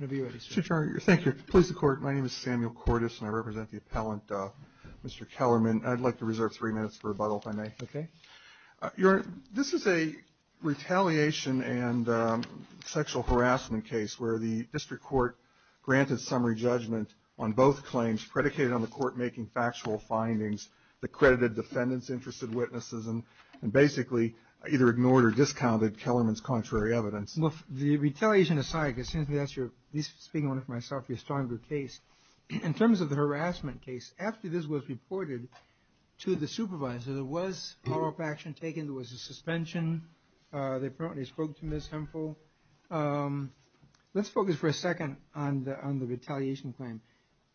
I'd like to reserve three minutes for rebuttal, if I may. Okay. Your Honor, this is a retaliation and sexual harassment case where the district court granted summary judgment on both claims predicated on the court making factual findings that credited defendants interested witnesses and basically either ignored or discounted Kellerman's contrary evidence. Well, the retaliation aside, because it seems to me that's your, speaking only for myself, your stronger case. In terms of the harassment case, after this was reported to the supervisor, there was follow-up action taken, there was a suspension, they spoke to Ms. Hemphill. Let's focus for a second on the retaliation claim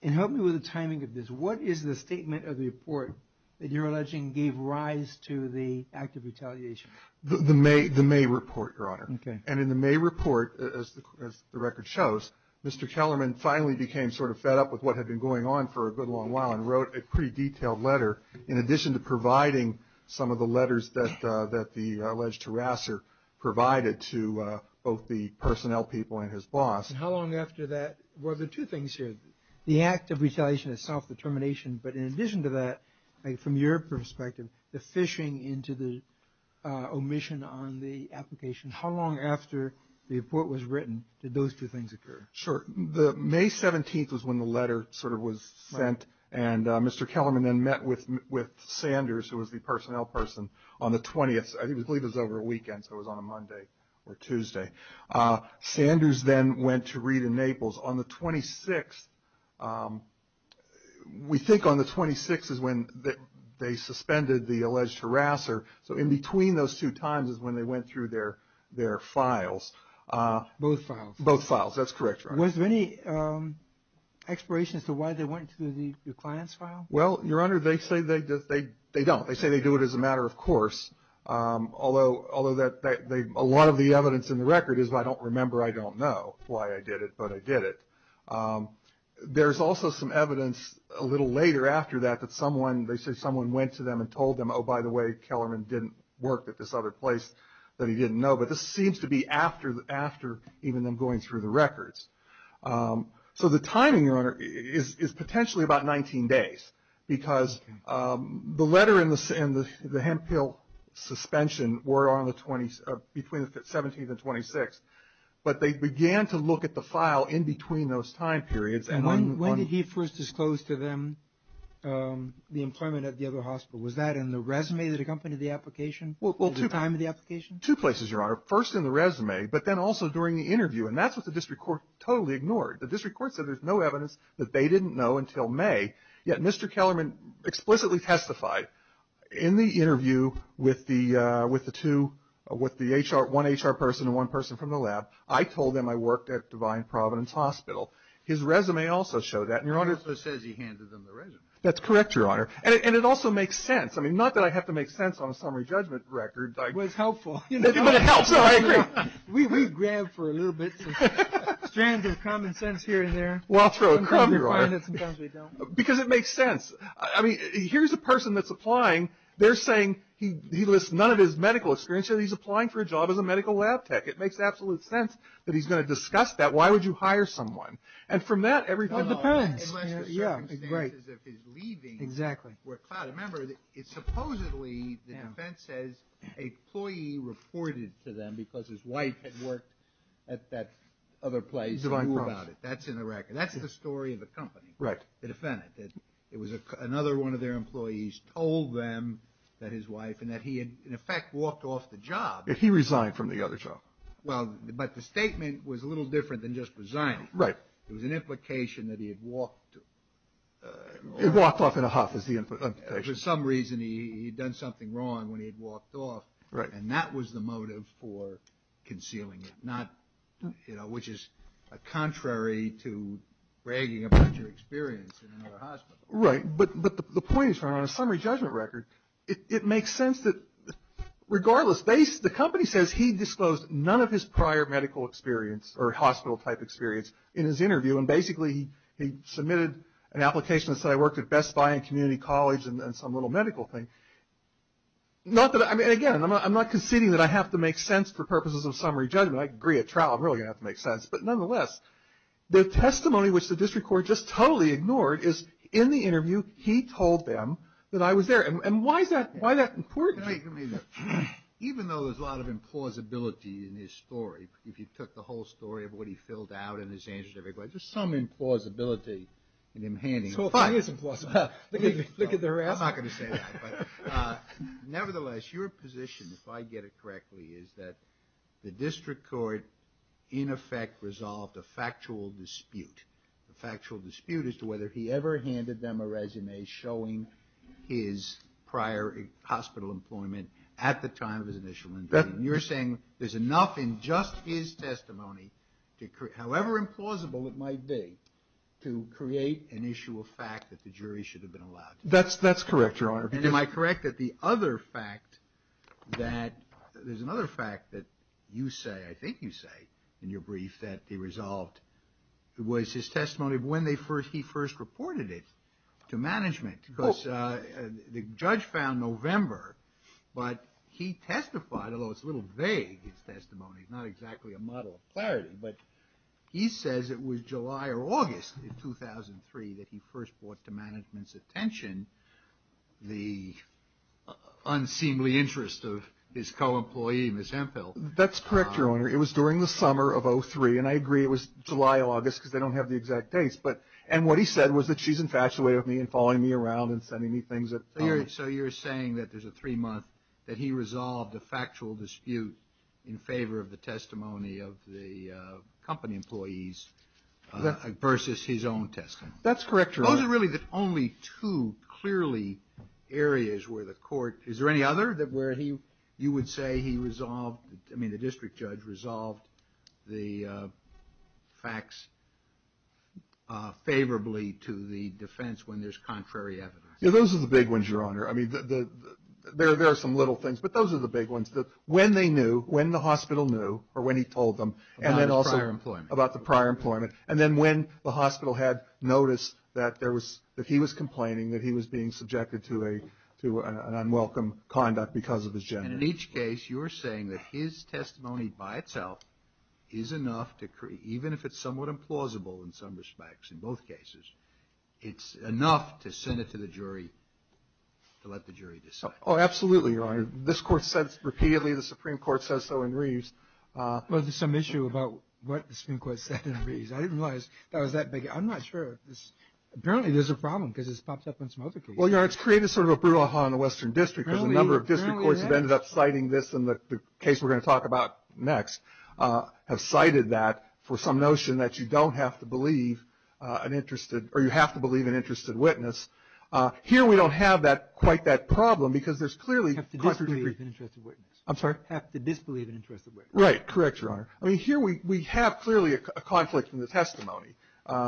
and help me with the timing of this. What is the statement of the report that you're alleging gave rise to the act of retaliation? The May report, Your Honor. Okay. And in the May report, as the record shows, Mr. Kellerman finally became sort of fed up with what had been going on for a good long while and wrote a pretty detailed letter in addition to providing some of the letters that the alleged harasser provided to both the personnel people and his boss. How long after that? Well, there are two things here. The act of retaliation is self-determination, but in addition to that, from your perspective, the phishing into the omission on the application, how long after the report was written did those two things occur? Sure. The May 17th was when the letter sort of was sent and Mr. Kellerman then met with Sanders, who was the personnel person, on the 20th. I believe it was over a weekend, so it was on a Monday or Tuesday. Sanders then went to read in Naples. On the 26th, we think on the 26th is when they suspended the alleged harasser. So in between those two times is when they went through their files. Both files. Both files. That's correct, Your Honor. Was there any exploration as to why they went through your client's file? Well, Your Honor, they say they don't. They say they do it as a matter of course, although a lot of the evidence in the record is I don't remember, I don't know why I did it, but I did it. There's also some evidence a little later after that that someone, they say someone went to them and told them, oh, by the way, Kellerman didn't work at this other place that he didn't know, but this seems to be after even them going through the records. So the timing, Your Honor, is potentially about 19 days because the letter and the hemp heel suspension were on the 20, between the 17th and 26th, but they began to look at the file in between those time periods. And when did he first disclose to them the employment at the other hospital? Was that in the resume that accompanied the application at the time of the application? Two places, Your Honor. First in the resume, but then also during the interview, and that's what the district court totally ignored. The district court said there's no evidence that they didn't know until May, yet Mr. Kellerman explicitly testified in the interview with the two, with the HR, one HR person and one person from the lab. I told them I worked at Divine Providence Hospital. His resume also showed that, and Your Honor. It also says he handed them the resume. That's correct, Your Honor. And it also makes sense. I mean, not that I have to make sense on a summary judgment record. Well, it's helpful. But it helps. I agree. We grabbed for a little bit, some strands of common sense here and there. Well, I'll throw a crumb, Your Honor. Sometimes we find it, sometimes we don't. Because it makes sense. I mean, here's a person that's applying. They're saying he lists none of his medical experience, and he's applying for a job as a medical lab tech. It makes absolute sense that he's going to discuss that. Why would you hire someone? And from that, everything... It depends. Yeah. Right. Unless the circumstances of his leaving... Exactly. ...were clouded. Remember, it supposedly, the defense says, a employee reported to them because his wife had worked at that other place. Divine Providence. That's in the record. That's the story of the company. Right. The defendant. It was another one of their employees told them, that his wife, and that he had, in effect, walked off the job. That he resigned from the other job. Well, but the statement was a little different than just resigning. Right. It was an implication that he had walked... Walked off in a huff is the implication. For some reason, he had done something wrong when he had walked off. Right. And that was the motive for concealing it. Not, you know, which is contrary to bragging about your experience in another hospital. Right. But the point is, on a summary judgment record, it makes sense that, regardless, the company says he disclosed none of his prior medical experience, or hospital type experience, in his interview. And basically, he submitted an application that said, I worked at Best Buy and Community College and some little medical thing. Not that, I mean, again, I'm not conceding that I have to make sense for purposes of summary judgment. I agree, at trial, I'm really going to have to make sense, but nonetheless, the testimony which the district court just totally ignored is, in the interview, he told them that I was there. And why is that, why that important? I mean, even though there's a lot of implausibility in his story, if you took the whole story of what he filled out in his answer to everybody, there's some implausibility in him handing a file. So he is implausible. Look at the harassment. I'm not going to say that, but nevertheless, your position, if I get it correctly, is that the district court, in effect, resolved a factual dispute, a factual dispute as to whether he ever handed them a resume showing his prior hospital employment at the time of his initial interview. And you're saying there's enough in just his testimony, however implausible it might be, to create an issue of fact that the jury should have been allowed. That's correct, Your Honor. And am I correct that the other fact that, there's another fact that you say, I think you say, in your brief, that he resolved, was his testimony of when he first reported it to management, because the judge found November, but he testified, although it's a little vague, his testimony, it's not exactly a model of clarity, but he says it was July or August of 2003 that he first brought to management's attention the unseemly interest of his co-employee, Ms. Hemphill. That's correct, Your Honor. It was during the summer of 03, and I agree it was July or August, because they don't have the exact dates, but, and what he said was that she's infatuated with me and following me around and sending me things at times. So you're saying that there's a three-month, that he resolved a factual dispute in favor of the testimony of the company employees versus his own testimony. That's correct, Your Honor. Those are really the only two clearly areas where the court, is there any other that where he, you would say he resolved, I mean, the district judge resolved the facts favorably to the defense when there's contrary evidence. Yeah, those are the big ones, Your Honor. I mean, there are some little things, but those are the big ones. When they knew, when the hospital knew, or when he told them, and then also about the prior employment, and then when the hospital had noticed that there was, that he was complaining, that he was being subjected to a, to an unwelcome conduct because of his gender. And in each case, you're saying that his testimony by itself is enough to, even if it's somewhat implausible in some respects in both cases, it's enough to send it to the jury to let the jury decide. Oh, absolutely, Your Honor. This court says repeatedly, the Supreme Court says so in Reeves. Well, there's some issue about what the Supreme Court said in Reeves. I didn't realize that was that big. I'm not sure if this, apparently there's a problem because this pops up in some other cases. Well, Your Honor, it's created sort of a brutal haunt in the Western District because a number of district courts have ended up citing this in the case we're going to talk about next, have cited that for some notion that you don't have to believe an interested, or you have to believe an interested witness. Here we don't have that, quite that problem because there's clearly, You have to disbelieve an interested witness. I'm sorry? You have to disbelieve an interested witness. Right. Correct, Your Honor. I mean, here we have clearly a conflict in the testimony.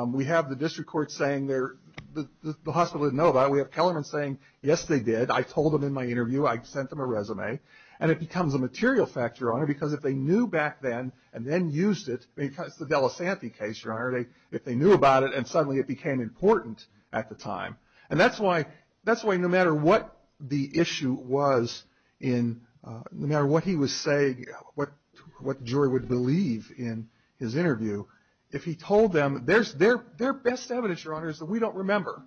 We have the district court saying they're, the hospital didn't know about it. We have Kellerman saying, yes, they did. I told them in my interview. I sent them a resume. And it becomes a material fact, Your Honor, because if they knew back then and then used it, because the Della Santi case, Your Honor, if they knew about it and suddenly it became important at the time, and that's why no matter what the issue was in, no matter what he was saying, what the jury would believe in his interview, if he told them, their best evidence, Your Honor, is that we don't remember.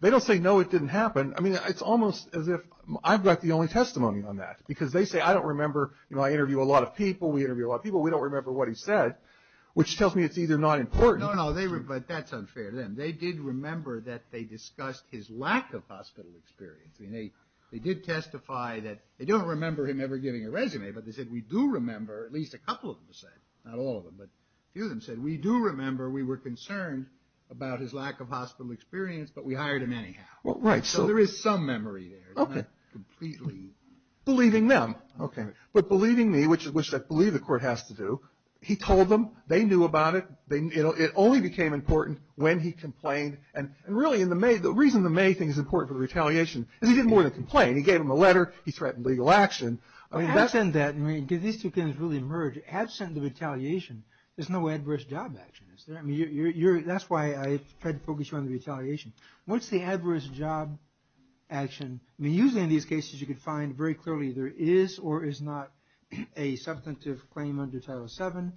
They don't say, no, it didn't happen. I mean, it's almost as if I've got the only testimony on that because they say, I don't remember. You know, I interview a lot of people. We interview a lot of people. We don't remember what he said, which tells me it's either not important. No, no. But that's unfair to them. They did remember that they discussed his lack of hospital experience. I mean, they did testify that they don't remember him ever giving a resume. But they said, we do remember, at least a couple of them said, not all of them, but a few of them said, we do remember we were concerned about his lack of hospital experience, but we hired him anyhow. Right. So there is some memory there. Okay. It's not completely. Believing them. Okay. But believing me, which I believe the court has to do, he told them. They knew about it. It only became important when he complained. And really, the reason the May thing is important for the retaliation is he didn't more than complain. He gave them a letter. He threatened legal action. I mean, absent that, I mean, because these two things really merge. Absent the retaliation, there's no adverse job action. I mean, that's why I tried to focus you on the retaliation. What's the adverse job action? I mean, usually in these cases, you can find very clearly there is or is not a substantive claim under Title VII,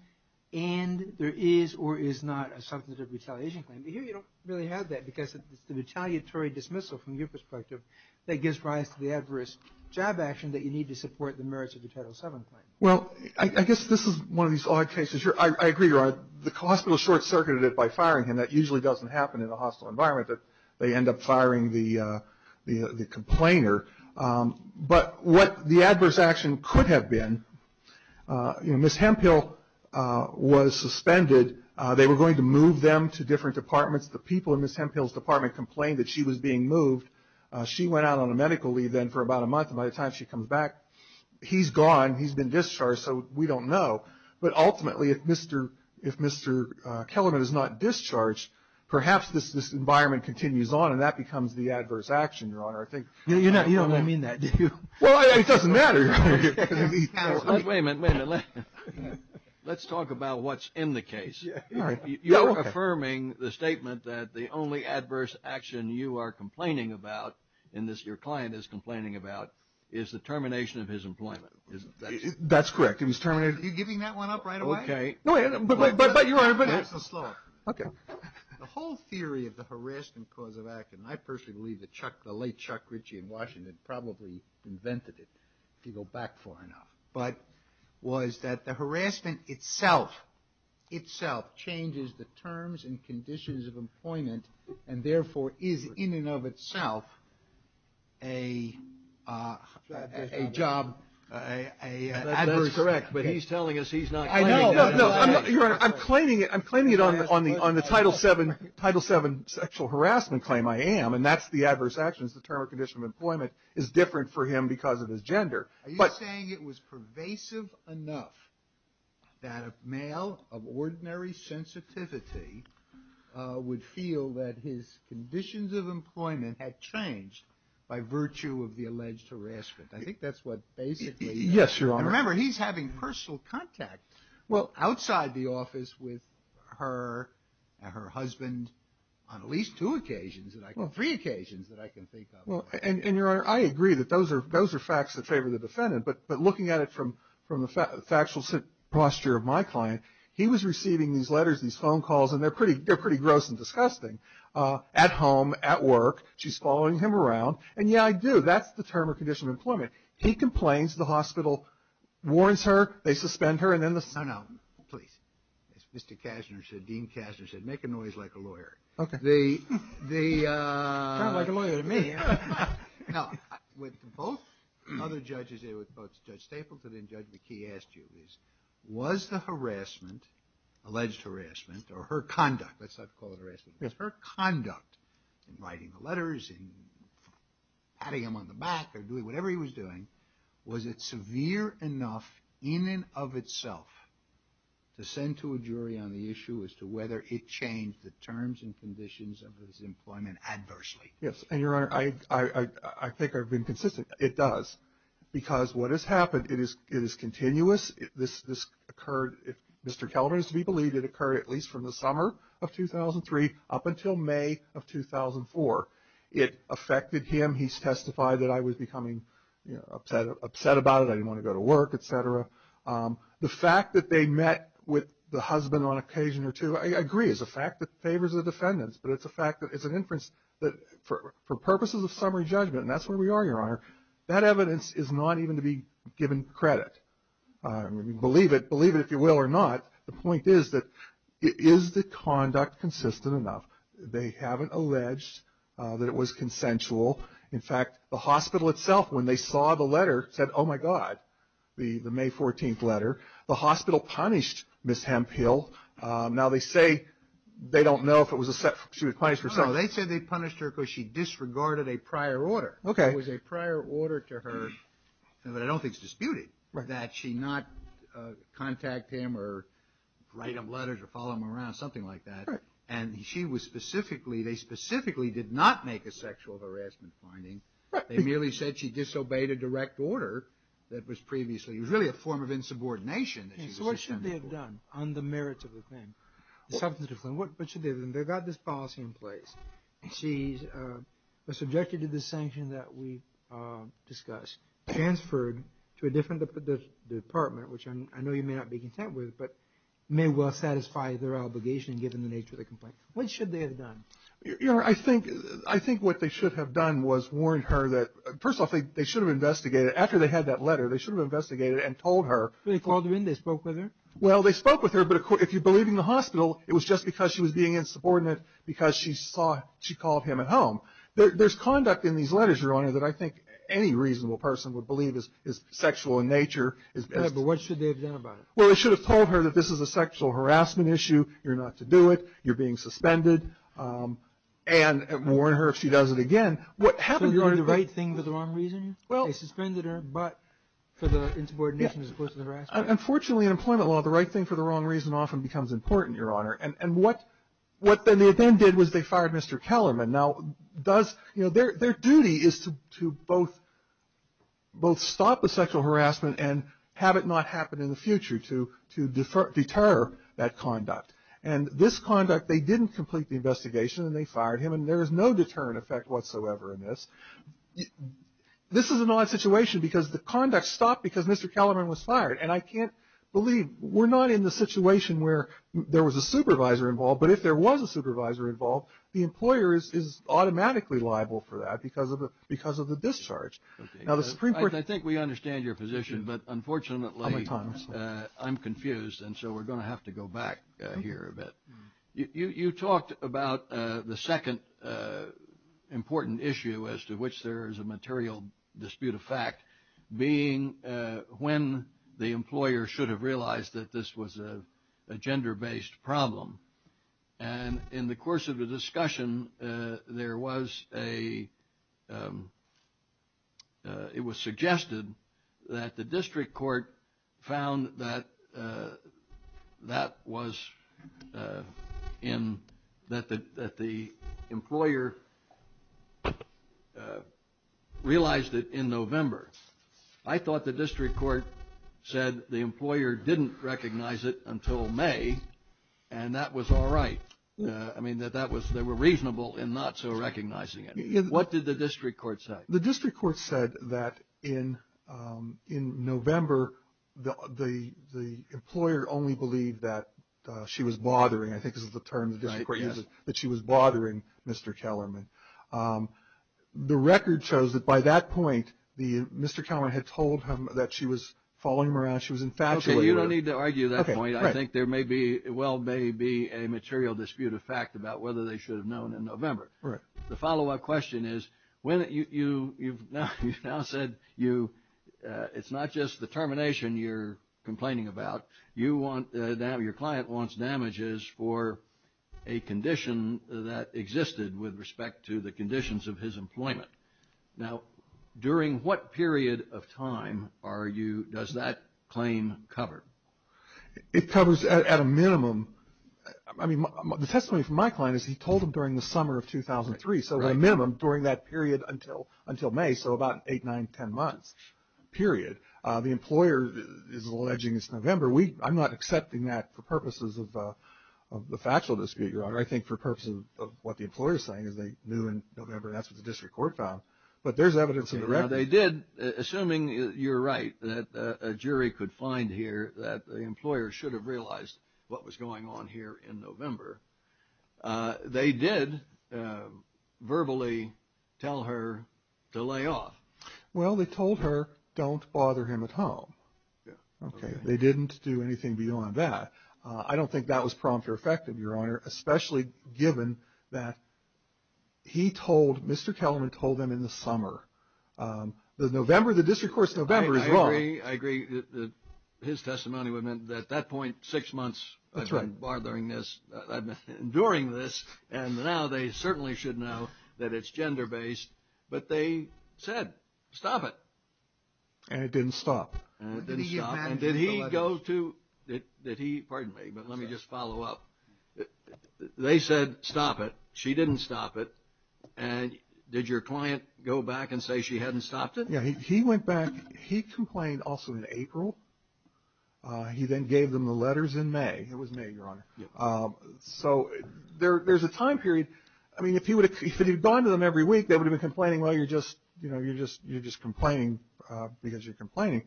and there is or is not a substantive retaliation claim. But here, you don't really have that because it's the retaliatory dismissal, from your perspective, that gives rise to the adverse job action that you need to support the merits of the Title VII claim. Well, I guess this is one of these odd cases. I agree. The hospital short-circuited it by firing him. That usually doesn't happen in a hostile environment. They end up firing the complainer. But what the adverse action could have been, you know, Ms. Hemphill was suspended. They were going to move them to different departments. The people in Ms. Hemphill's department complained that she was being moved. She went out on a medical leave then for about a month, and by the time she comes back, he's gone. He's been discharged, so we don't know. But ultimately, if Mr. Kellerman is not discharged, perhaps this environment continues on, and that becomes the adverse action, Your Honor. You don't mean that, do you? Well, it doesn't matter. Wait a minute. Let's talk about what's in the case. You're affirming the statement that the only adverse action you are complaining about, and your client is complaining about, is the termination of his employment. That's correct. He was terminated. Are you giving that one up right away? Okay. No, but Your Honor. I'm so slow. Okay. The whole theory of the harassment cause of action, and I personally believe that Chuck, the late Chuck Ritchie in Washington probably invented it, if you go back far enough, but was that the harassment itself, itself, changes the terms and conditions of employment, and therefore is in and of itself a job, an adverse action. That's correct. But he's telling us he's not claiming that. I know. No, Your Honor. I'm claiming it on the Title VII sexual harassment claim. I am, and that's the adverse action. It's the term or condition of employment. It's different for him because of his gender. Are you saying it was pervasive enough that a male of ordinary sensitivity would feel that his conditions of employment had changed by virtue of the alleged harassment? I think that's what basically. Yes, Your Honor. Remember, he's having personal contact. Well, outside the office with her and her husband on at least two occasions, three occasions that I can think of. Well, and Your Honor, I agree that those are facts that favor the defendant, but looking at it from the factual posture of my client, he was receiving these letters, these phone calls, and they're pretty gross and disgusting, at home, at work. She's following him around, and yeah, I do. That's the term or condition of employment. He complains. The hospital warns her. They suspend her, and then the. No, no, please. Mr. Kastner said, Dean Kastner said, make a noise like a lawyer. Okay. The. Kind of like a lawyer to me. Now, with both other judges, Judge Stapleton and Judge McKee asked you, was the harassment, alleged harassment, or her conduct, let's not call it harassment, her conduct in writing the letters and patting him on the back or doing whatever he was doing, was it severe enough in and of itself to send to a jury on the issue as to whether it changed the terms and conditions of his employment adversely? Yes, and Your Honor, I think I've been consistent. It does, because what has happened, it is continuous. This occurred, if Mr. Kellerman is to be believed, it occurred at least from the summer of 2003 up until May of 2004. It affected him. He's testified that I was becoming upset about it. I didn't want to go to work, et cetera. The fact that they met with the husband on occasion or two, I agree, is a fact that favors the defendants, but it's a fact that it's an inference that for purposes of summary judgment, and that's where we are, Your Honor, that evidence is not even to be given credit. Believe it, believe it if you will or not, the point is that is the conduct consistent enough? They haven't alleged that it was consensual. In fact, the hospital itself, when they saw the letter, said, oh my God, the May 14th letter, the hospital punished Ms. Hemphill. Now, they say they don't know if she was punished herself. No, they said they punished her because she disregarded a prior order. It was a prior order to her, that I don't think is disputed, that she not contact him or write him letters or follow him around, something like that. And she was specifically, they specifically did not make a sexual harassment finding. They merely said she disobeyed a direct order that was previously, it was really a form of insubordination. So what should they have done on the merits of the claim? They've got this policy in place. She was subjected to the sanction that we discussed, transferred to a different department, which I know you may not be content with, but may well satisfy their obligation to issue the complaint. What should they have done? I think what they should have done was warn her that, first off, they should have investigated, after they had that letter, they should have investigated and told her. They called her in, they spoke with her? Well, they spoke with her, but if you believe in the hospital, it was just because she was being insubordinate, because she called him at home. There's conduct in these letters, Your Honor, that I think any reasonable person would believe is sexual in nature. But what should they have done about it? Well, they should have told her that this is a sexual harassment issue, you're not to do it, you're being suspended, and warned her if she does it again. So they did the right thing for the wrong reason? They suspended her, but for the insubordination as opposed to the harassment? Unfortunately, in employment law, the right thing for the wrong reason often becomes important, Your Honor. And what they then did was they fired Mr. Kellerman. Now, their duty is to both stop the sexual harassment and have it not happen in the future to deter that conduct. And this conduct, they didn't complete the investigation, and they fired him, and there is no deterrent effect whatsoever in this. This is an odd situation, because the conduct stopped because Mr. Kellerman was fired. And I can't believe, we're not in the situation where there was a supervisor involved, but if there was a supervisor involved, the employer is automatically liable for that because of the discharge. I think we understand your position, but unfortunately, I'm confused, and so we're going to have to go back here. You talked about the second important issue as to which there is a material dispute of fact being when the employer should have realized that this was a gender-based problem. And in the course of the discussion, it was suggested that the district court found that the employer realized it in November. I thought the district court said the employer didn't recognize it until May, and that was all right. I mean, that they were reasonable in not so recognizing it. What did the district court say? The district court said that in November, the employer only believed that she was bothering. I think this is the term the district court used, that she was bothering Mr. Kellerman. The record shows that by that point, Mr. Kellerman had told him that she was following him around. She was infatuated with him. Okay, you don't need to argue that point. I think there may be a material dispute of fact about whether they should have known in November. The follow-up question is, you've now said you, it's not just the termination you're complaining about. You want, your client wants damages for a condition that existed with respect to the conditions of his employment. Now, during what period of time are you, does that claim cover? It covers at a minimum. I mean, the testimony from my client is he told him during the summer of 2003. So the minimum during that period until May. So about 8, 9, 10 months period. The employer is alleging it's November. I'm not accepting that for purposes of the factual dispute, Your Honor. I think for purposes of what the employer is saying is they knew in November. That's what the district court found. But there's evidence in the record. They did, assuming you're right, that a jury could find here that the employer should have realized what was going on here in November. They did verbally tell her to lay off. Well, they told her don't bother him at home. Okay. They didn't do anything beyond that. I don't think that was prompt or effective, Your Honor, especially given that he told, Mr. Kellerman told them in the summer. The November, the district court's November is wrong. I agree, I agree. His testimony would have meant at that point, six months. That's right. They should have been bothering this, enduring this. And now they certainly should know that it's gender based. But they said, stop it. And it didn't stop. And it didn't stop. And did he go to, did he, pardon me, but let me just follow up. They said, stop it. She didn't stop it. And did your client go back and say she hadn't stopped it? Yeah, he went back. He complained also in April. So there's a time period. I mean, if he would have, if he had gone to them every week, they would have been complaining, well, you're just, you know, you're just, you're just complaining because you're complaining.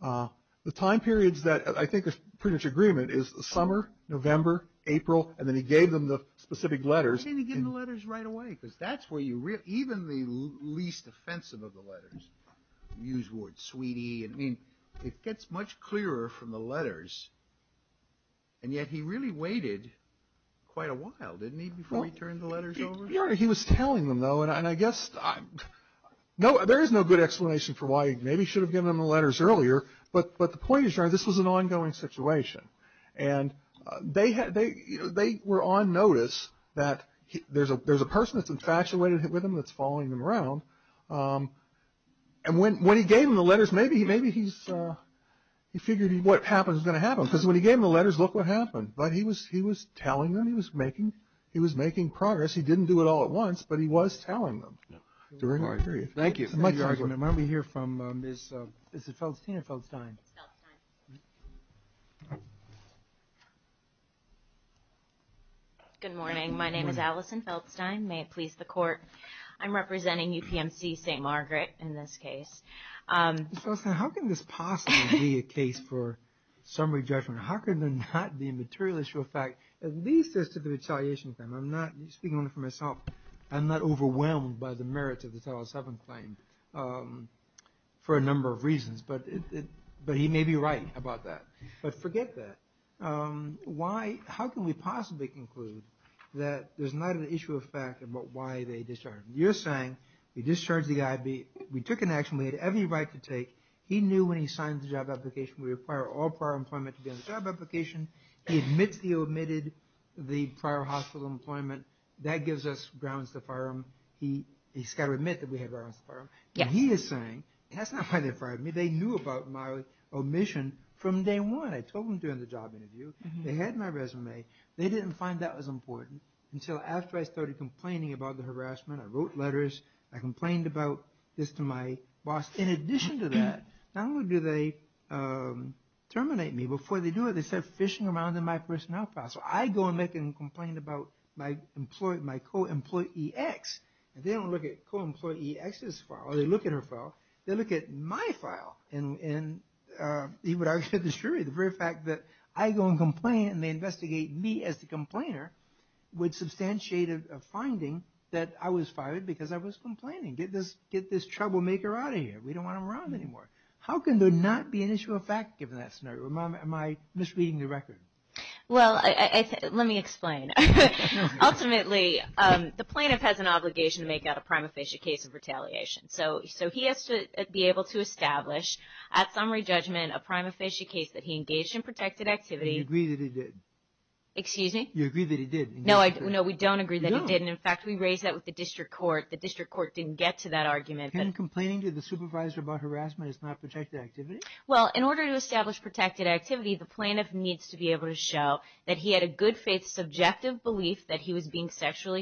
The time periods that I think is pretty much agreement is summer, November, April. And then he gave them the specific letters. I mean, he gave them the letters right away because that's where you really, even the least offensive of the letters. He used the word sweetie. He waited quite a while, didn't he, before he turned the letters over? He was telling them though. And I guess, no, there is no good explanation for why he maybe should have given them the letters earlier. But the point is, this was an ongoing situation. And they were on notice that there's a person that's infatuated with him that's following him around. And when he gave him the letters, maybe he figured what happened and said, look what happened. But he was telling them, he was making progress. He didn't do it all at once, but he was telling them during the period. Thank you for your argument. Why don't we hear from Ms. Is it Feldstein or Feldstein? It's Feldstein. Good morning. My name is Allison Feldstein. May it please the court. I'm representing UPMC St. Margaret in this case. Ms. Feldstein, how can this possibly be a case for summary judgment? How can there not be a material issue of fact, at least as to the retaliation claim? I'm not, speaking only for myself, I'm not overwhelmed by the merits of the Title VII claim for a number of reasons. But he may be right about that. But forget that. How can we possibly conclude that there's not an issue of fact about why they discharged him? You're saying, we discharged the guy. We took an action. We had every right to take. He knew when he signed the job application, we require all prior employment to be on the job application. He admits he omitted the prior hospital employment. That gives us grounds to fire him. He's got to admit that we have grounds to fire him. And he is saying, that's not why they fired me. They knew about my omission from day one. I told them during the job interview. They had my resume. They didn't find that was important until after I started complaining about the harassment. I wrote letters. I complained about this to my boss. In addition to that, not only do they terminate me, before they do it, they start fishing around in my personnel file. So I go and make a complaint about my employee, my co-employee X. They don't look at co-employee X's file. They look at her file. They look at my file. He would argue the jury. The very fact that I go and complain and they investigate me as the complainer would substantiate a finding that I was fired because I was complaining. Get this troublemaker out of here. We don't want him around anymore. How can there not be an issue of fact given that scenario? Am I misreading the record? The plaintiff has an obligation to make out a prima facie case of retaliation. So he has to be able to establish at summary judgment a prima facie case that he engaged in protected activity. You agree that he did? No, we don't agree that he did. In fact, we raised that with the district court. The district court didn't get to that argument. Him complaining to the supervisor about harassment is not protected activity? Well, in order to establish protected activity, he had to be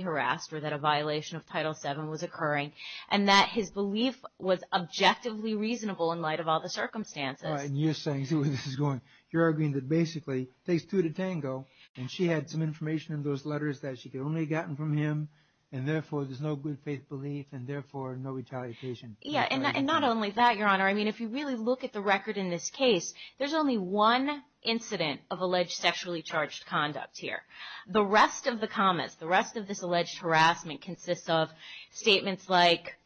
harassed or that a violation of Title VII was occurring and that his belief was objectively reasonable in light of all the circumstances. You're arguing that basically it takes two to tango and she had some information in those letters that she could only have gotten from him and therefore there's no good faith belief and therefore no retaliation. Yeah, and not only that, Your Honor. If you really look at the record in this case, there's only one incident where alleged harassment consists of statements like,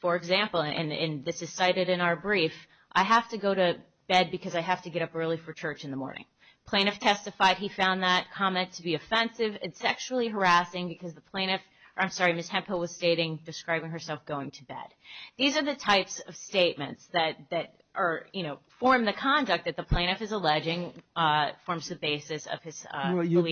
for example, and this is cited in our brief, I have to go to bed because I have to get up early for church in the morning. Plaintiff testified he found that comment to be offensive and sexually harassing because the plaintiff, I'm sorry, Ms. Hemphill was stating describing herself going to bed. These are the types of statements that form the conduct that the plaintiff is alleging and these two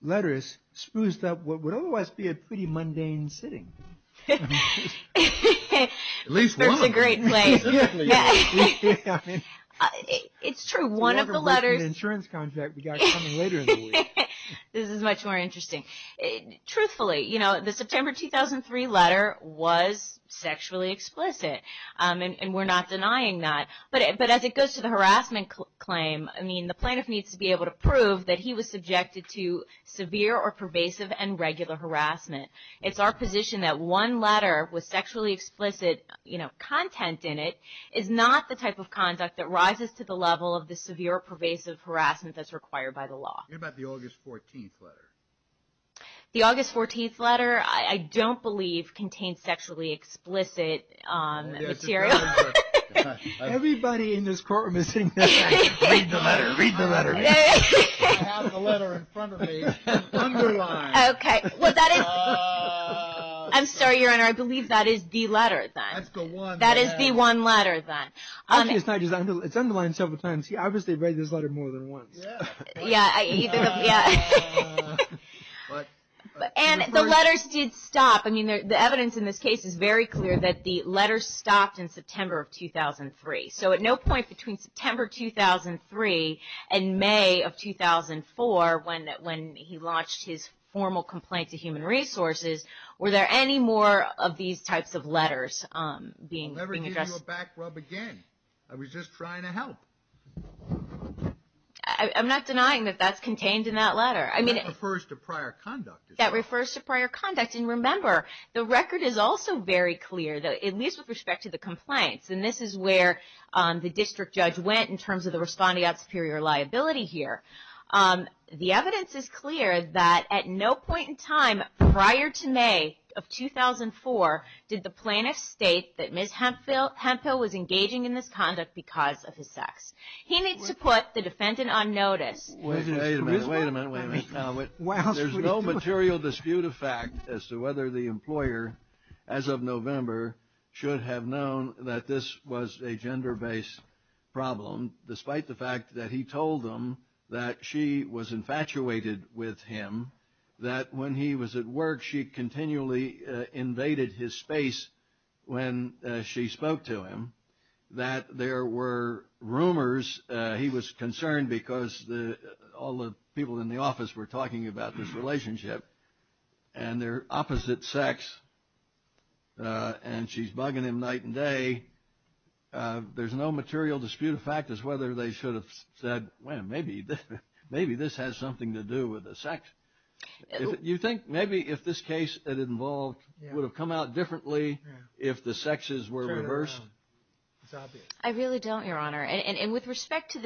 letters spruced up what would otherwise be a pretty mundane sitting. At least one. That's a great way. It's true. One of the letters. It's an insurance contract we got coming later in the week. This is much more interesting. Truthfully, the September 2003 letter was sexually explicit and we're not denying that but as it goes to the harassment claim, the plaintiff needs to be able to do severe or pervasive and regular harassment. It's our position that one letter with sexually explicit content in it is not the type of conduct that rises to the level of the severe or pervasive harassment that's required by the law. What about the August 14th letter? The August 14th letter, I don't believe contains sexually explicit material. Everybody in this courtroom is saying read the letter, read the letter. It's underlined. Okay. I'm sorry, Your Honor. I believe that is the letter then. That is the one letter then. It's underlined several times. He obviously read this letter more than once. Yeah. The letters did stop. The evidence in this case is very clear that the letters stopped in September of 2003. At no point between September 2003 and May of 2004 when he launched his formal complaint to Human Resources were there any more of these types of letters being addressed. I'll never give you a back rub again. I was just trying to help. I'm not denying that that's contained in that letter. That refers to prior conduct. That refers to prior conduct. And remember, the record is also very clear at least with respect to the complaints. And this is where the district judge went in terms of the responding out superior liability here. The evidence is clear that at no point in time prior to May of 2004 did the plaintiff state that Ms. Hemphill was engaging in this conduct because of his sex. He needs to put the defendant on notice. Wait a minute. Wait a minute. There's no material dispute of fact as to whether the employer as of November should have known that this was a gender-based problem despite the fact that he told them that she was infatuated with him, that when he was at work she continually invaded his space when she spoke to him, that there were rumors he was concerned because all the people in the office were talking about this relationship and their opposite sex and she's bugging him all night and day. There's no material dispute of fact as to whether they should have said, well, maybe this has something to do with the sex. Do you think maybe if this case involved would have come out differently if the sexes were reversed? I really don't, Your Honor. And with respect to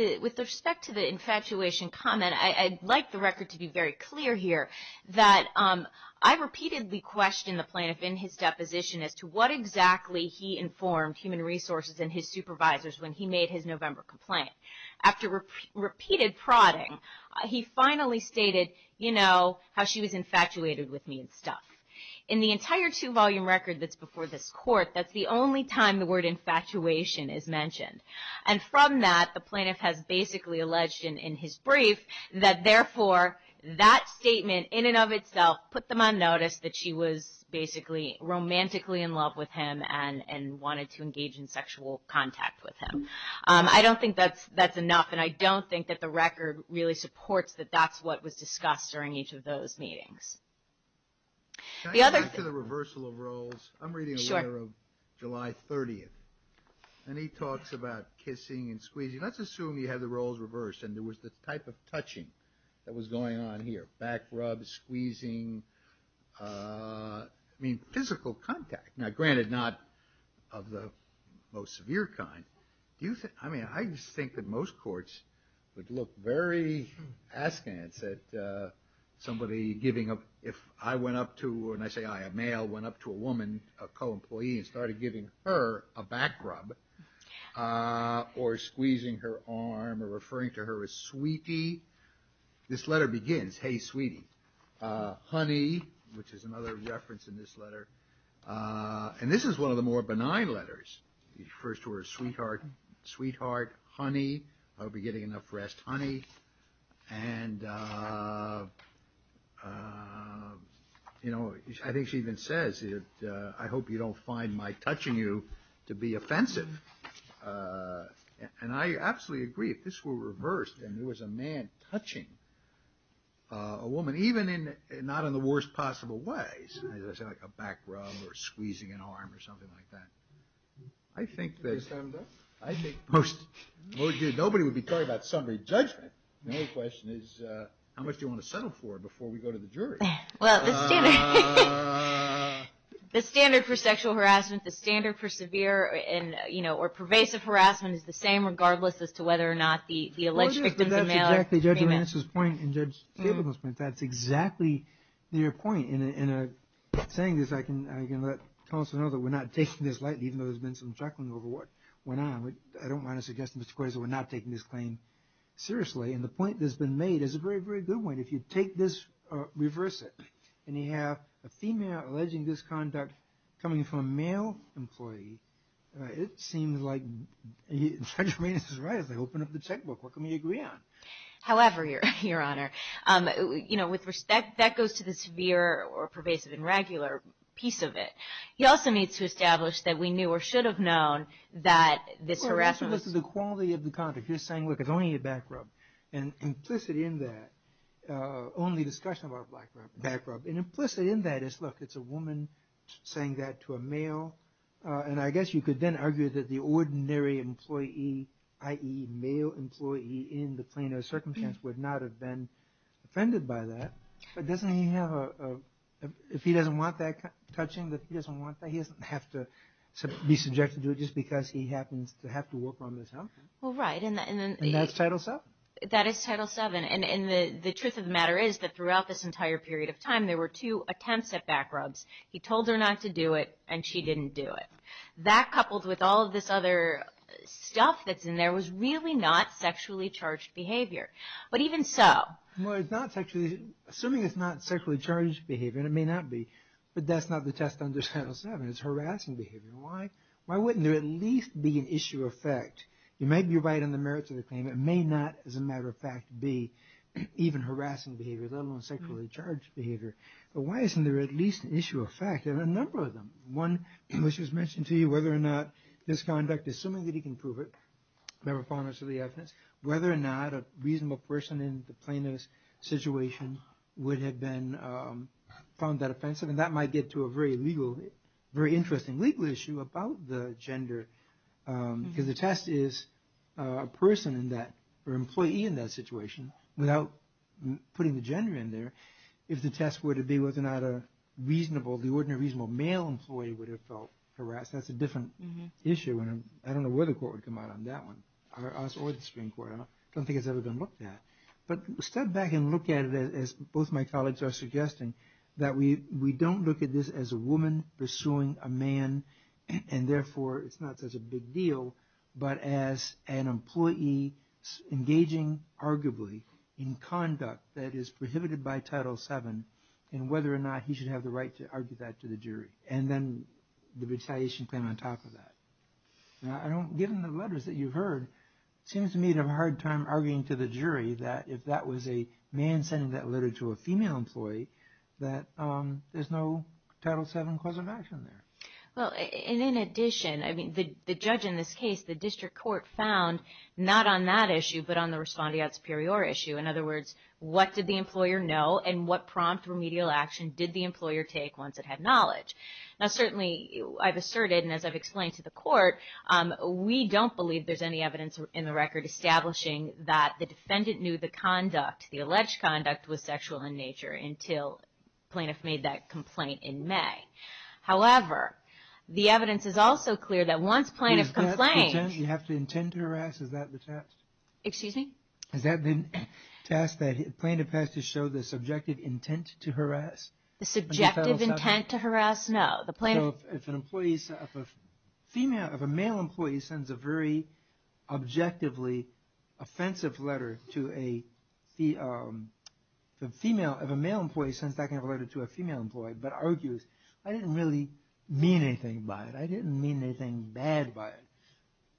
the infatuation comment, I'd like the record to be very clear here that I repeatedly questioned the plaintiff in his deposition as to what exactly he informed Human Resources and his supervisors when he made his November complaint. After repeated prodding, he finally stated, you know, how she was infatuated with me and stuff. In the entire two-volume record that's before this Court, that's the only time the word infatuation is mentioned. And from that, the plaintiff has basically alleged in his brief that, therefore, that statement in and of itself put them on notice that she was basically romantically in love with him and wanted to engage in sexual contact with him. I don't think that's enough and I don't think that the record really supports that that's what was discussed during each of those meetings. The other thing... Can I go back to the reversal of roles? Sure. I'm reading a letter of July 30th and he talks about kissing and squeezing. Let's assume you have the roles reversed and there was this type of touching that was going on here, back rub, squeezing, I mean, physical contact. Now, granted, not of the most severe kind. I mean, I just think that most courts would look very askance at somebody giving, if I went up to, when I say I, a male went up to a woman, a co-employee, and started giving her a back rub or squeezing her arm or referring to her as sweetie. This letter begins, hey, sweetie. Honey, which is another reference in this letter, and this is one of the more benign letters. It refers to her as sweetheart. Sweetheart, honey, I'll be getting enough rest, honey, and, you know, I think she even says, I hope you don't find my touching you to be offensive. And I absolutely agree. If this were reversed and there was a man touching a woman, even in, not in the worst possible ways, I think that, I think most, nobody would be talking about somebody's judgment. The only question is, how much do you want to settle for before we go to the jury? The standard for sexual harassment, the standard for severe or pervasive harassment is the same regardless as to whether or not the alleged victim's a male or female. That's exactly Judge Durant's point and Judge Tabor's point. If that's exactly your point in saying this, I can let counsel know that we're not taking this lightly even though there's been some chuckling over what went on. I don't mind us suggesting, Mr. Corey, that we're not taking this claim seriously. And the point that's been made is a very, very good one. If you take this, reverse it, and you have a female alleging this conduct coming from a male employee, it seems like Judge Reynolds is right. If they open up the checkbook, what can we agree on? However, Your Honor, with respect, that goes to the severe or pervasive and regular piece of it. He also needs to establish that we knew or should have known that this harassment... The quality of the conduct. You're saying, look, it's only a back rub. And implicit in that, look, it's a woman saying that to a male. And I guess you could then argue that the ordinary employee, i.e. male employee in the plainer circumstance would not have been offended by that. But doesn't he have a... If he doesn't want that touching, he doesn't have to be subjected to it just because he happens to have to work on his health. And that's Title VII. That is Title VII. And the truth of the matter is that throughout this entire period of time there were two attempts at back rubs. He told her not to do it and she didn't do it. That coupled with all of this other stuff that's in there was really not sexually charged behavior. But even so... Well, it's not sexually... Assuming it's not sexually charged behavior, and it may not be, but that's not the test under Title VII. It's harassment behavior. Why? Why wouldn't there at least be an issue of fact? You may be right on the merits of the claim. It may not, as a matter of fact, be even harassing behavior, let alone sexually charged behavior. But why isn't there at least an issue of fact in a number of them? One, which was mentioned to you, whether or not this conduct, assuming that he can prove it, I've never found it to be evidence, whether or not a reasonable person in the plaintiff's situation would have been... found that offensive. And that might get to a very legal, very interesting legal issue about the gender. Because the test is whether or not a person in that, or an employee in that situation, without putting the gender in there, if the test were to be whether or not a reasonable, the ordinary reasonable male employee would have felt harassed. That's a different issue and I don't know where the court would come out on that one. Us or the Supreme Court. I don't think it's ever been looked at. But step back and look at it as both my colleagues are suggesting, that we don't look at this as a woman pursuing a man and therefore, it's not such a big deal, but as an employee engaging arguably in conduct that is prohibited by Title VII and whether or not he should have the right to argue that to the jury. And then the retaliation plan on top of that. Now I don't, given the letters that you've heard, it seems to me to have a hard time arguing to the jury that if that was a man sending that letter to a female employee, that there's no Title VII cause of action there. Well, and in addition, I mean the judge in this case, the district court found not on that issue but on the respondeat superior issue. In other words, what did the employer know and what prompt remedial action did the employer take once it had knowledge? Now certainly, I've asserted and as I've explained to the court, we don't believe there's any evidence in the record establishing that the defendant knew the conduct, the alleged conduct was sexual in nature until plaintiff made that complaint in May. However, the evidence is also clear that once plaintiff complained... You have to intend to harass, is that the test? Excuse me? Is that the test that plaintiff has to show the subjective intent to harass? The subjective intent to harass? No. So if an employee, if a female, if a male employee sends a very objectively offensive letter to a female, if a male employee sends that kind of letter to a female employee but argues, I didn't really mean anything by it, I didn't mean anything by it, I didn't mean anything bad by it,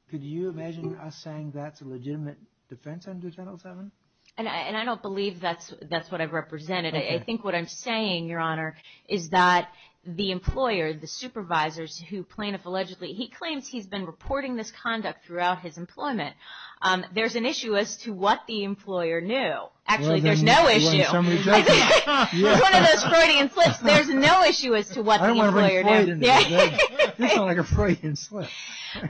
could you imagine us saying that's a legitimate defense under Channel 7? And I don't believe that's what I've represented. I think what I'm saying, Your Honor, is that the employer, the supervisors who plaintiff allegedly, he claims he's been reporting this conduct throughout his employment, there's an issue as to what the employer knew. Actually, there's no issue. One of those Freudian slips, there's no issue as to what the employer knew. I don't want to bring Freud into this. You sound like a Freudian slip.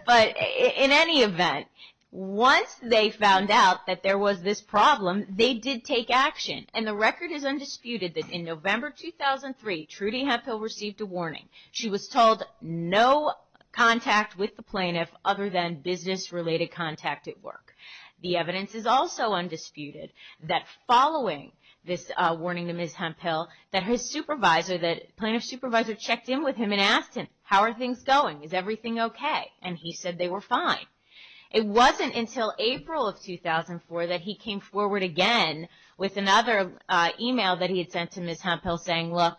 But, in any event, once they found out that there was this problem, they did take action. And the record is undisputed that in November 2003, Trudy Hemphill received a warning. She was told no contact with the plaintiff other than business related contact at work. The evidence is also undisputed that following this warning to Ms. Hemphill that her supervisor, that plaintiff's supervisor checked in with him and asked him, how are things going? Is everything okay? And he said they were fine. It wasn't until April of 2004 that he came forward again with another email that he had sent to Ms. Hemphill saying, look,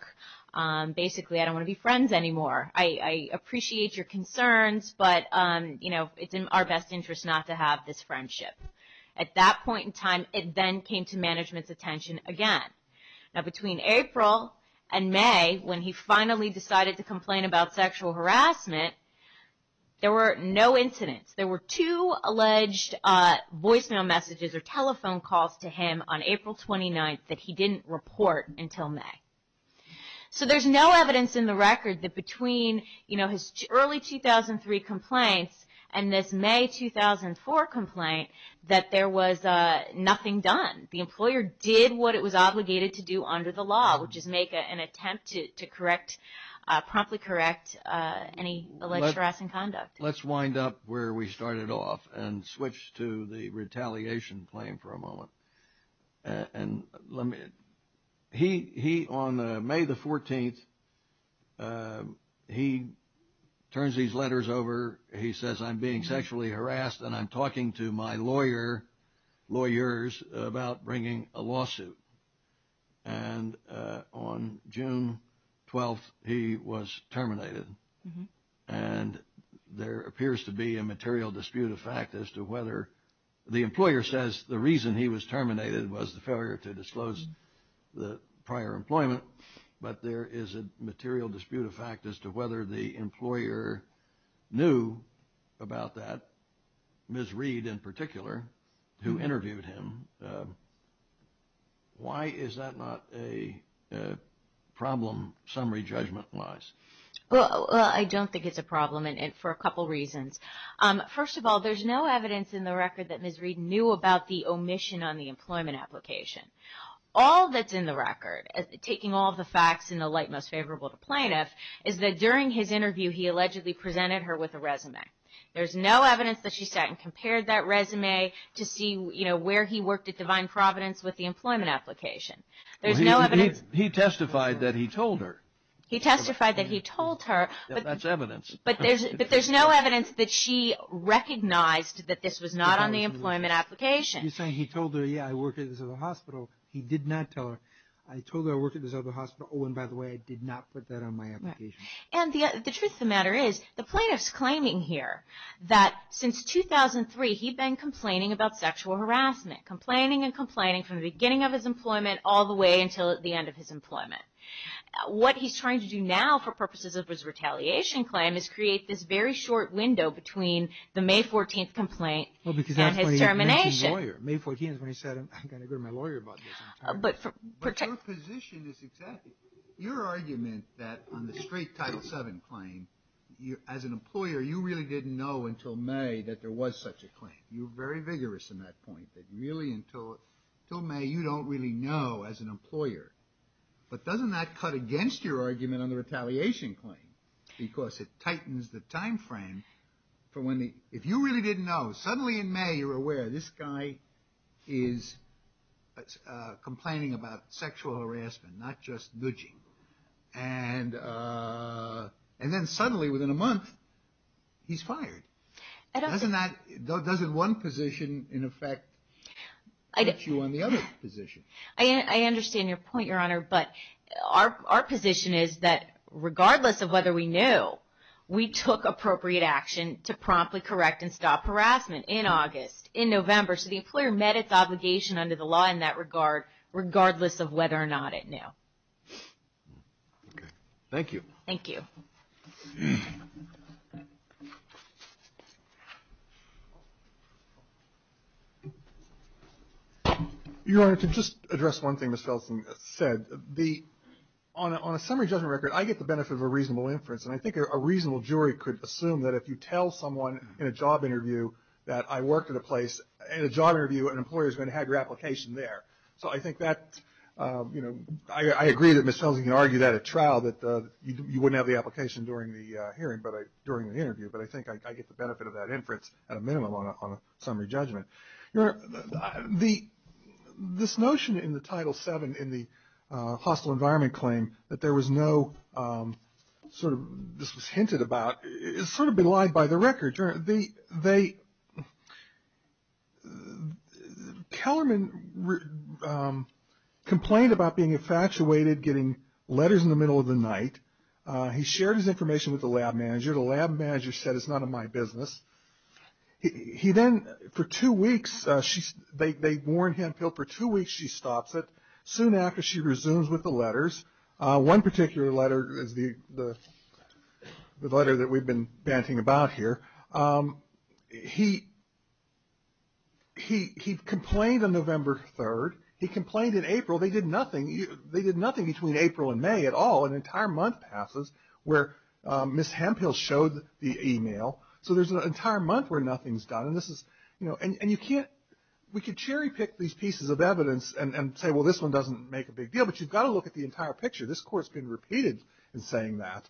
basically, I don't want to be friends anymore. I appreciate your concerns, but, you know, it's in our best interest not to have this friendship. At that point in time, it then came to management's attention again. Now, between April and May, when he finally decided to complain about sexual harassment, there were no incidents. There were two alleged voicemail messages or telephone calls to him on April 29th that he didn't report until May. So, there's no evidence in the record that between, you know, his early 2003 complaints and this May 2004 complaint that there was nothing done. The employer did what it was obligated to do under the law, which is make an attempt to correct, promptly correct any alleged harassment conduct. Let's wind up where we started off and switch to the retaliation claim for a moment. And, let me, he, he, on May 14th, he turns these letters over, he says, I'm being sexually harassed and I'm talking to my lawyer, lawyers, about bringing a lawsuit. And, on June 12th, he was terminated. And, there appears to be a material dispute of fact as to whether the employer says the reason he was terminated was the failure to disclose the prior employment. But, there is a material dispute of fact as to whether the employer knew about that, Ms. Reed in particular, who interviewed him. Why is that not a problem judgment-wise? Well, I don't think it's a problem for a couple reasons. First of all, there's no evidence in the record that Ms. Reed knew about the omission on the employment application. All that's in the record, taking all the facts in the light most favorable to plaintiff, is that during his interview, he allegedly presented her with a resume. There's no evidence that she sat and compared that resume to see where he worked at Divine Providence with the employment application. He testified that he told her. He testified that he told her. That's evidence. But, there's no evidence that she recognized that this was not on the employment application. You're saying he told her, yeah, I work at this other hospital. He did not tell her. I told her I was a lawyer. That, since 2003, he'd been complaining about sexual harassment. Complaining and complaining from the beginning of his employment all the way until the end of his employment. What he's trying for purposes of his retaliation claim is create this very short window between the May 14th complaint and his termination. Well, because that's when he mentioned lawyer. May 14th is when he said I've got to go to my lawyer about this. But, your position is exactly, your argument that on the straight Title 7 claim, as an employer, you really didn't know until May that there was such a claim. You were very vigorous in that point, that really until May, you don't really know as an employer. But, doesn't that cut against your argument on the retaliation claim? Because it is complaining about sexual harassment, not just nudging. And, then suddenly within a month he's fired. Doesn't that, doesn't one position in effect catch you on the other position? I understand your point, Your Honor. But, our position is that regardless of whether we knew, we took appropriate action to promptly correct and stop harassment in August, in November. So, the employer met its obligation under the law in that regard, regardless of whether or not it knew. Okay. Thank you. Thank you. Your Honor, to just address one thing Ms. Felsen said, the, on a summary judgment record, I get the benefit of a reasonable jury could assume that if you tell someone in a job interview that I worked at a place, in a job interview, an employer is going to have your application there. So, I think that, you know, I agree that Ms. Felsen can argue that at trial, that you wouldn't have the application during the interview, but I think I get the benefit of that inference at a minimum on a summary judgment. Your Honor, this notion in the Title VII in the hostile environment claim that there was no sort of, this was hinted about, is sort of belied by the record. The, they, Kellerman complained about being infatuated getting letters in the middle of the night. He shared his information with the lab manager. The lab manager said it's none of my business. He then, for two weeks, they warned him, for two weeks she stops it. Soon after she resumes with the letters. One particular letter is the letter that we've been banting about here. He complained on November 3rd. He complained in April. They did nothing. They did nothing between April and May at all. An entire month passes where Ms. Hemphill showed the email. So there's an entire month where nothing's done. And you can't, we could cherry pick these pieces of evidence and say, well, this one doesn't make a big deal. But you've got to look at the entire picture. This court has been repeated in saying that.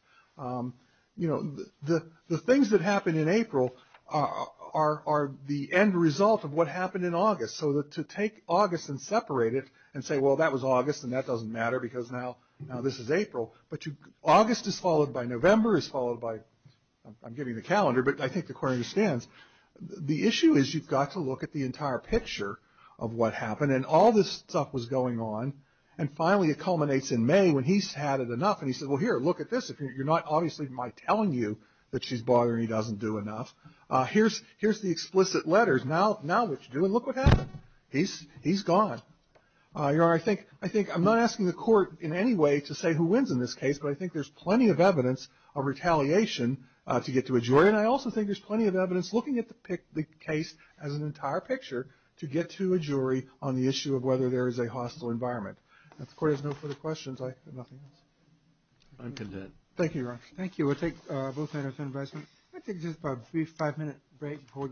The things that happened in April are the end result of what happened in August. So to take August and separate it and say, well, that was August and that doesn't matter because now this is April. But August is followed by November, is followed by, I'm giving the calendar, but I think the court understands. The issue is you've got to look at the entire picture of what happened. And all this stuff was going on. And finally, it culminates in May when he's had it enough. And he said, well, here, look at this. You're not obviously telling you that she's bothering you and doesn't do enough. Here's the explicit letters. Now, look what happened. He's gone. You know, I think, I'm not asking the court in any way to say who wins in this case, but I think there's plenty of evidence of retaliation to get to a jury. And I also think there's plenty of evidence looking at the case as an entire picture to get to a jury on the issue of whether there is a hostile environment. If the court has no further questions, I think that's going to do close the hearing. I have no other questions. I have nothing else. I'm content. Thank you, Ron. Thank you. I think it's just about a brief five-minute break before we go back to the hearing. Thank you. Thank you. Thank you, Ron.